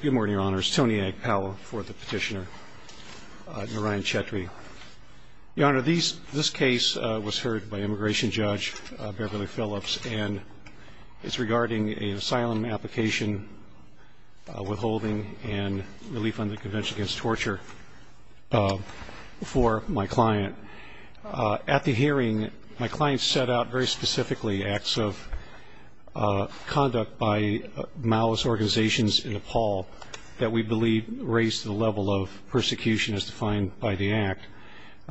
Good morning, Your Honor. It's Tony Agpao for the petitioner, Narayan Chhetri. Your Honor, this case was heard by Immigration Judge Beverly Phillips, and it's regarding an asylum application, withholding, and relief on the Convention Against Torture for my client. At the hearing, my client set out very specifically acts of conduct by malice organizations in Nepal that we believe raised the level of persecution as defined by the Act,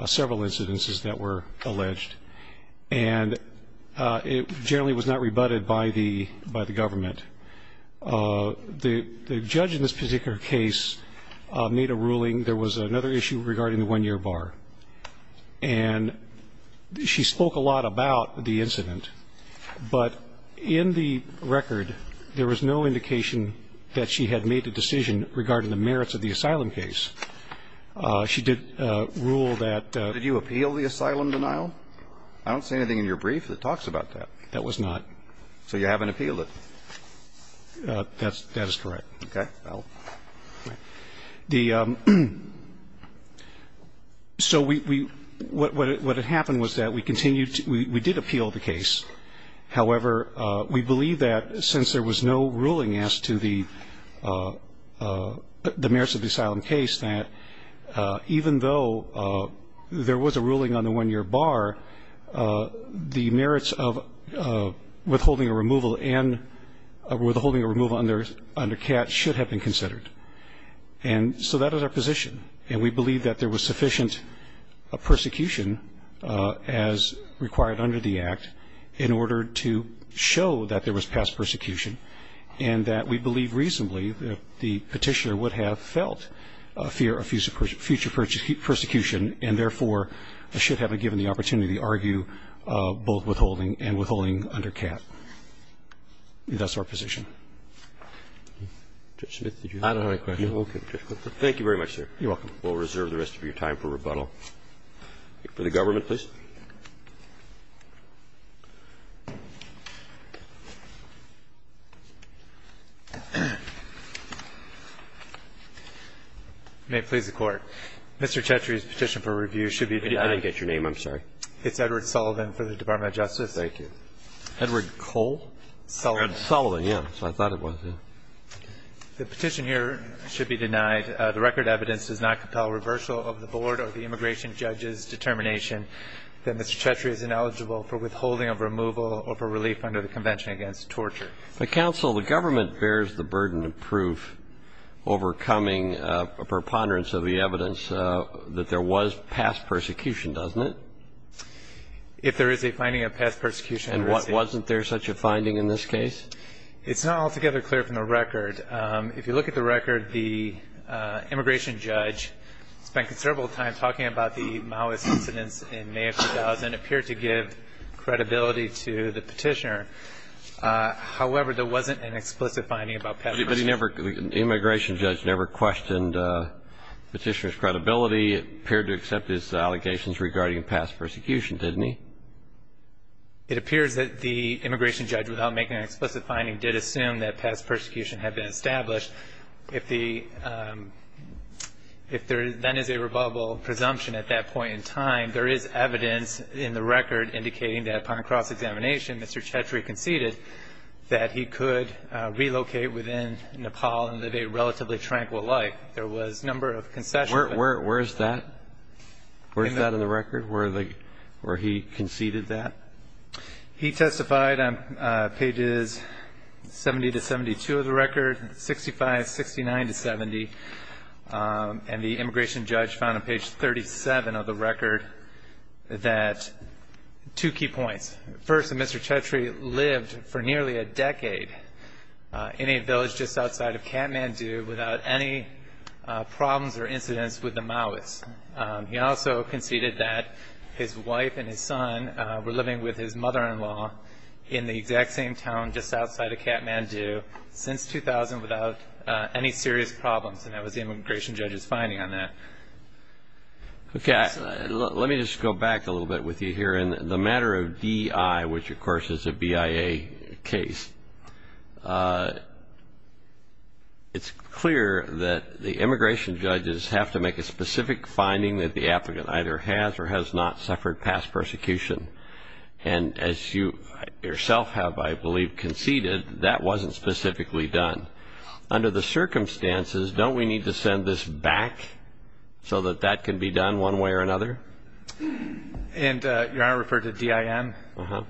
several incidences that were alleged. And it generally was not rebutted by the government. The judge in this particular case made a ruling. There was another issue regarding the one-year bar, and she spoke a lot about the incident. But in the record, there was no indication that she had made a decision regarding the merits of the asylum case. She did rule that the ---- Did you appeal the asylum denial? I don't see anything in your brief that talks about that. That was not. So you haven't appealed it? That is correct. Okay. So we ---- what happened was that we continued to ---- we did appeal the case. However, we believe that since there was no ruling as to the merits of the asylum case, that even though there was a ruling on the one-year bar, the merits of withholding a removal and withholding a removal under CAT should have been considered. And so that is our position. And we believe that there was sufficient persecution as required under the Act in order to show that there was past persecution, and that we believe reasonably that the Petitioner would have felt a fear of future persecution and therefore should have been given the opportunity to argue both withholding and withholding under CAT. That's our position. Judge Smith, did you have a question? I don't have a question. Okay. Thank you very much, sir. You're welcome. We'll reserve the rest of your time for rebuttal. For the government, please. May it please the Court. Mr. Chetri's petition for review should be denied. I didn't get your name. I'm sorry. It's Edward Sullivan for the Department of Justice. Thank you. Edward Cole? Sullivan. I thought it was, yes. The petition here should be denied. The record evidence does not compel reversal of the board or the immigration judge's determination that Mr. Chetri is ineligible for withholding of removal or for relief under the Convention Against Torture. Counsel, the government bears the burden of proof overcoming a preponderance of the evidence that there was past persecution, doesn't it? If there is a finding of past persecution. And wasn't there such a finding in this case? It's not altogether clear from the record. If you look at the record, the immigration judge spent considerable time talking about the Maoist incidents in May of 2000 and appeared to give credibility to the petitioner. However, there wasn't an explicit finding about past persecution. But the immigration judge never questioned the petitioner's credibility. It appeared to accept his allegations regarding past persecution, didn't he? It appears that the immigration judge, without making an explicit finding, did assume that past persecution had been established. If there then is a rebuttable presumption at that point in time, there is evidence in the record indicating that upon cross-examination, Mr. Chetri conceded that he could relocate within Nepal and live a relatively tranquil life. There was a number of concessions. Where is that? Where is that in the record, where he conceded that? He testified on pages 70 to 72 of the record, 65, 69 to 70, and the immigration judge found on page 37 of the record that two key points. First, that Mr. Chetri lived for nearly a decade in a village just outside of Kathmandu without any problems or incidents with the Maoists. He also conceded that his wife and his son were living with his mother-in-law in the exact same town just outside of Kathmandu since 2000 without any serious problems, and that was the immigration judge's finding on that. Okay. Let me just go back a little bit with you here. In the matter of DI, which, of course, is a BIA case, it's clear that the immigration judges have to make a specific finding that the applicant either has or has not suffered past persecution, and as you yourself have, I believe, conceded, that wasn't specifically done. Under the circumstances, don't we need to send this back so that that can be done one way or another? And Your Honor referred to DIM? Uh-huh.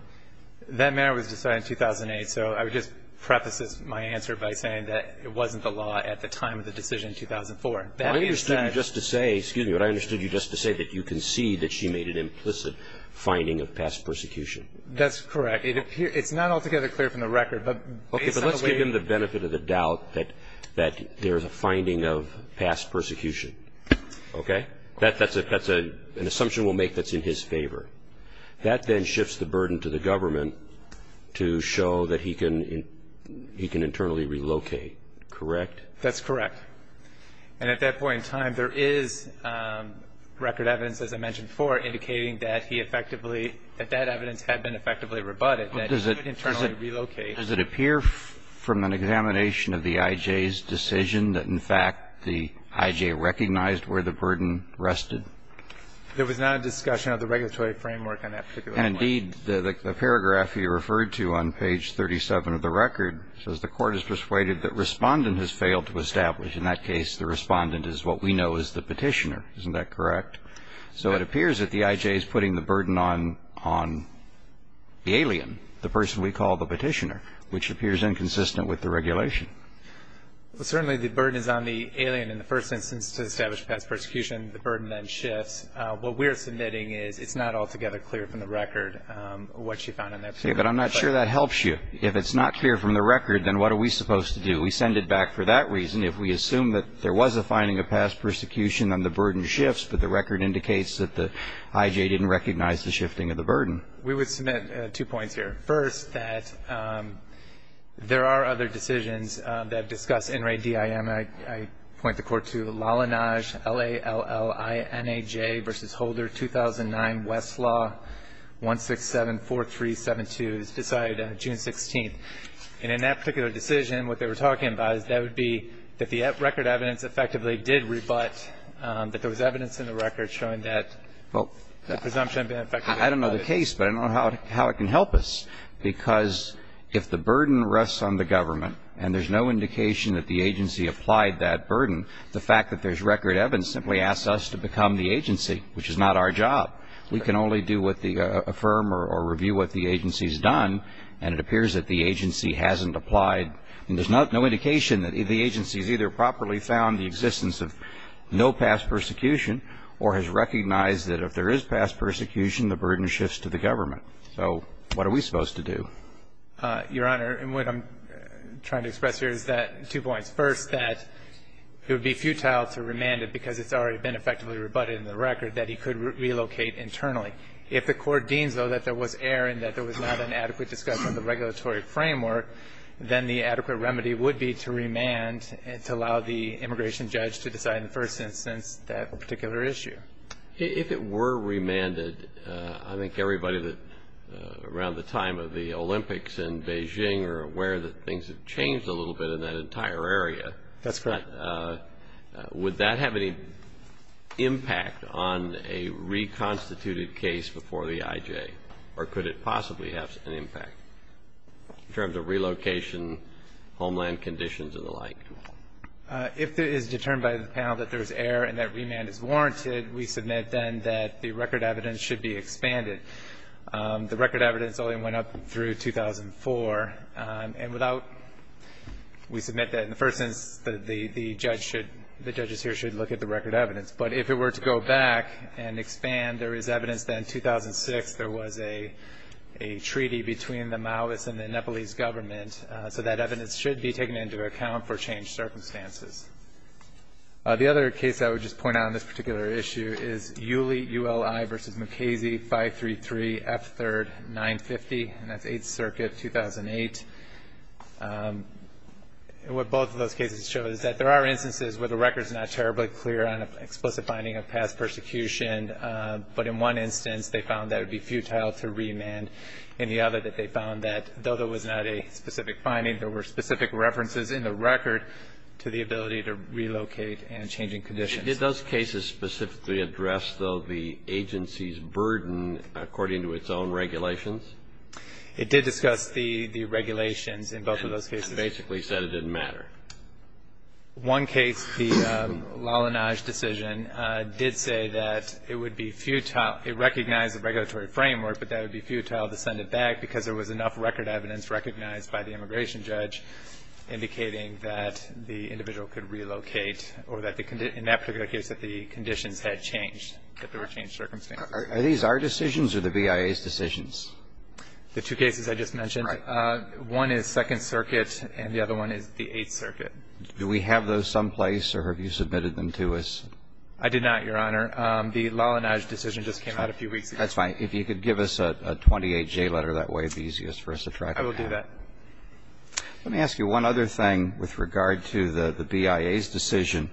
That matter was decided in 2008, so I would just preface my answer by saying that it wasn't the law at the time of the decision in 2004. I understood you just to say, excuse me, but I understood you just to say that you concede that she made an implicit finding of past persecution. That's correct. It's not altogether clear from the record, but based on the way— Okay, but let's give him the benefit of the doubt that there is a finding of past persecution. Okay? That's an assumption we'll make that's in his favor. That then shifts the burden to the government to show that he can internally relocate, correct? That's correct. And at that point in time, there is record evidence, as I mentioned before, indicating that he effectively—that that evidence had been effectively rebutted, that he could internally relocate. Does it appear from an examination of the IJ's decision that, in fact, the IJ recognized where the burden rested? There was not a discussion of the regulatory framework on that particular point. And, indeed, the paragraph you referred to on page 37 of the record says, the court is persuaded that respondent has failed to establish. In that case, the respondent is what we know as the petitioner. Isn't that correct? So it appears that the IJ is putting the burden on the alien, the person we call the petitioner, which appears inconsistent with the regulation. Well, certainly the burden is on the alien in the first instance to establish past persecution. The burden then shifts. What we're submitting is it's not altogether clear from the record what she found in that particular case. Yeah, but I'm not sure that helps you. If it's not clear from the record, then what are we supposed to do? We send it back for that reason. If we assume that there was a finding of past persecution, then the burden shifts, but the record indicates that the IJ didn't recognize the shifting of the burden. We would submit two points here. First, that there are other decisions that discuss NRADIM. I point the court to Lallanaj, L-A-L-L-I-N-A-J, v. Holder, 2009, Westlaw, 1674372. It was decided June 16th. And in that particular decision, what they were talking about is that would be that the record evidence effectively did rebut that there was evidence in the record showing that the presumption had been effectively rebutted. I don't know the case, but I don't know how it can help us because if the burden rests on the government and there's no indication that the agency applied that burden, the fact that there's record evidence simply asks us to become the agency, which is not our job. We can only do what the firm or review what the agency has done, and it appears that the agency hasn't applied. And there's no indication that the agency has either properly found the existence of no past persecution or has recognized that if there is past persecution, the burden shifts to the government. So what are we supposed to do? Your Honor, what I'm trying to express here is that, two points. First, that it would be futile to remand it because it's already been effectively rebutted in the record, that he could relocate internally. If the Court deems, though, that there was error and that there was not an adequate discussion of the regulatory framework, then the adequate remedy would be to remand and to allow the immigration judge to decide in the first instance that particular issue. If it were remanded, I think everybody around the time of the Olympics in Beijing are aware that things have changed a little bit in that entire area. That's correct. Would that have any impact on a reconstituted case before the IJ, or could it possibly have an impact in terms of relocation, homeland conditions, and the like? If it is determined by the panel that there is error and that remand is warranted, we submit then that the record evidence should be expanded. The record evidence only went up through 2004. And without we submit that in the first instance, the judge should, the judges here should look at the record evidence. But if it were to go back and expand, there is evidence that in 2006 there was a treaty between the Maoist and the Nepalese government. So that evidence should be taken into account for changed circumstances. The other case I would just point out on this particular issue is Uli, U-L-I v. Mukasey, 533 F. 3rd, 950, and that's 8th Circuit, 2008. What both of those cases show is that there are instances where the record is not terribly clear on an explicit finding of past persecution, but in one instance they found that it would be futile to remand, and the other that they found that though there was not a specific finding, there were specific references in the record to the ability to relocate and changing conditions. Did those cases specifically address, though, the agency's burden according to its own regulations? It did discuss the regulations in both of those cases. And basically said it didn't matter. One case, the Lalanaj decision, did say that it would be futile. It recognized the regulatory framework, but that it would be futile to send it back because there was enough record evidence recognized by the immigration judge indicating that the individual could relocate or that in that particular case that the conditions had changed, that there were changed circumstances. Are these our decisions or the BIA's decisions? The two cases I just mentioned. Right. One is 2nd Circuit, and the other one is the 8th Circuit. Do we have those someplace, or have you submitted them to us? I did not, Your Honor. The Lalanaj decision just came out a few weeks ago. That's fine. If you could give us a 28J letter, that would be easiest for us to track down. I will do that. Let me ask you one other thing with regard to the BIA's decision,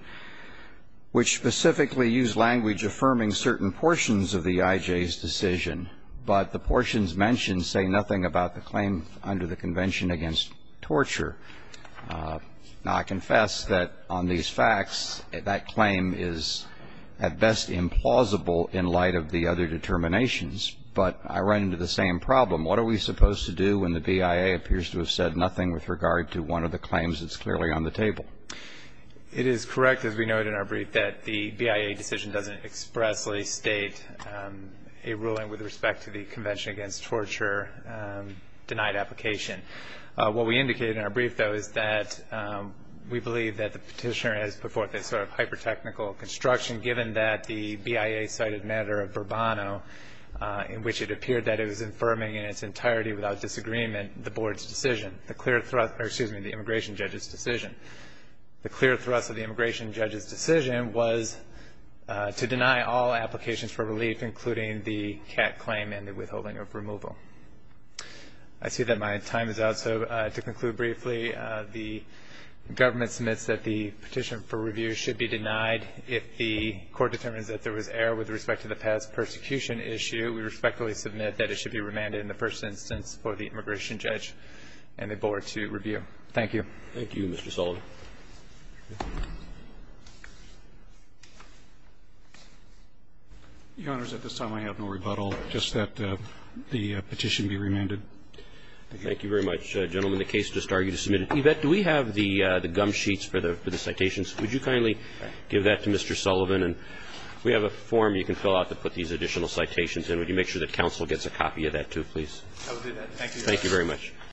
which specifically used language affirming certain portions of the IJ's decision, but the portions mentioned say nothing about the claim under the Convention Against Torture. Now, I confess that on these facts, that claim is at best implausible in light of the other determinations, but I run into the same problem. What are we supposed to do when the BIA appears to have said nothing with regard to one of the claims that's clearly on the table? It is correct, as we noted in our brief, that the BIA decision doesn't expressly state a ruling with respect to the Convention Against Torture denied application. What we indicated in our brief, though, is that we believe that the petitioner has put forth a sort of hyper-technical construction, given that the BIA cited matter of Bourbano, in which it appeared that it was affirming in its entirety without disagreement the board's decision, the immigration judge's decision. The clear thrust of the immigration judge's decision was to deny all applications for relief, including the CAT claim and the withholding of removal. I see that my time is out, so to conclude briefly, the government submits that the petition for review should be denied if the court determines that there was error with respect to the past persecution issue. We respectfully submit that it should be remanded in the first instance for the immigration judge and the board to review. Thank you. Thank you, Mr. Sullivan. Your Honor, at this time I have no rebuttal. Just that the petition be remanded. Thank you. Thank you very much, gentlemen. The case just argued is submitted. Yvette, do we have the gum sheets for the citations? Would you kindly give that to Mr. Sullivan? And we have a form you can fill out to put these additional citations in. Would you make sure that counsel gets a copy of that, too, please? I will do that. Thank you, Your Honor. Thank you very much.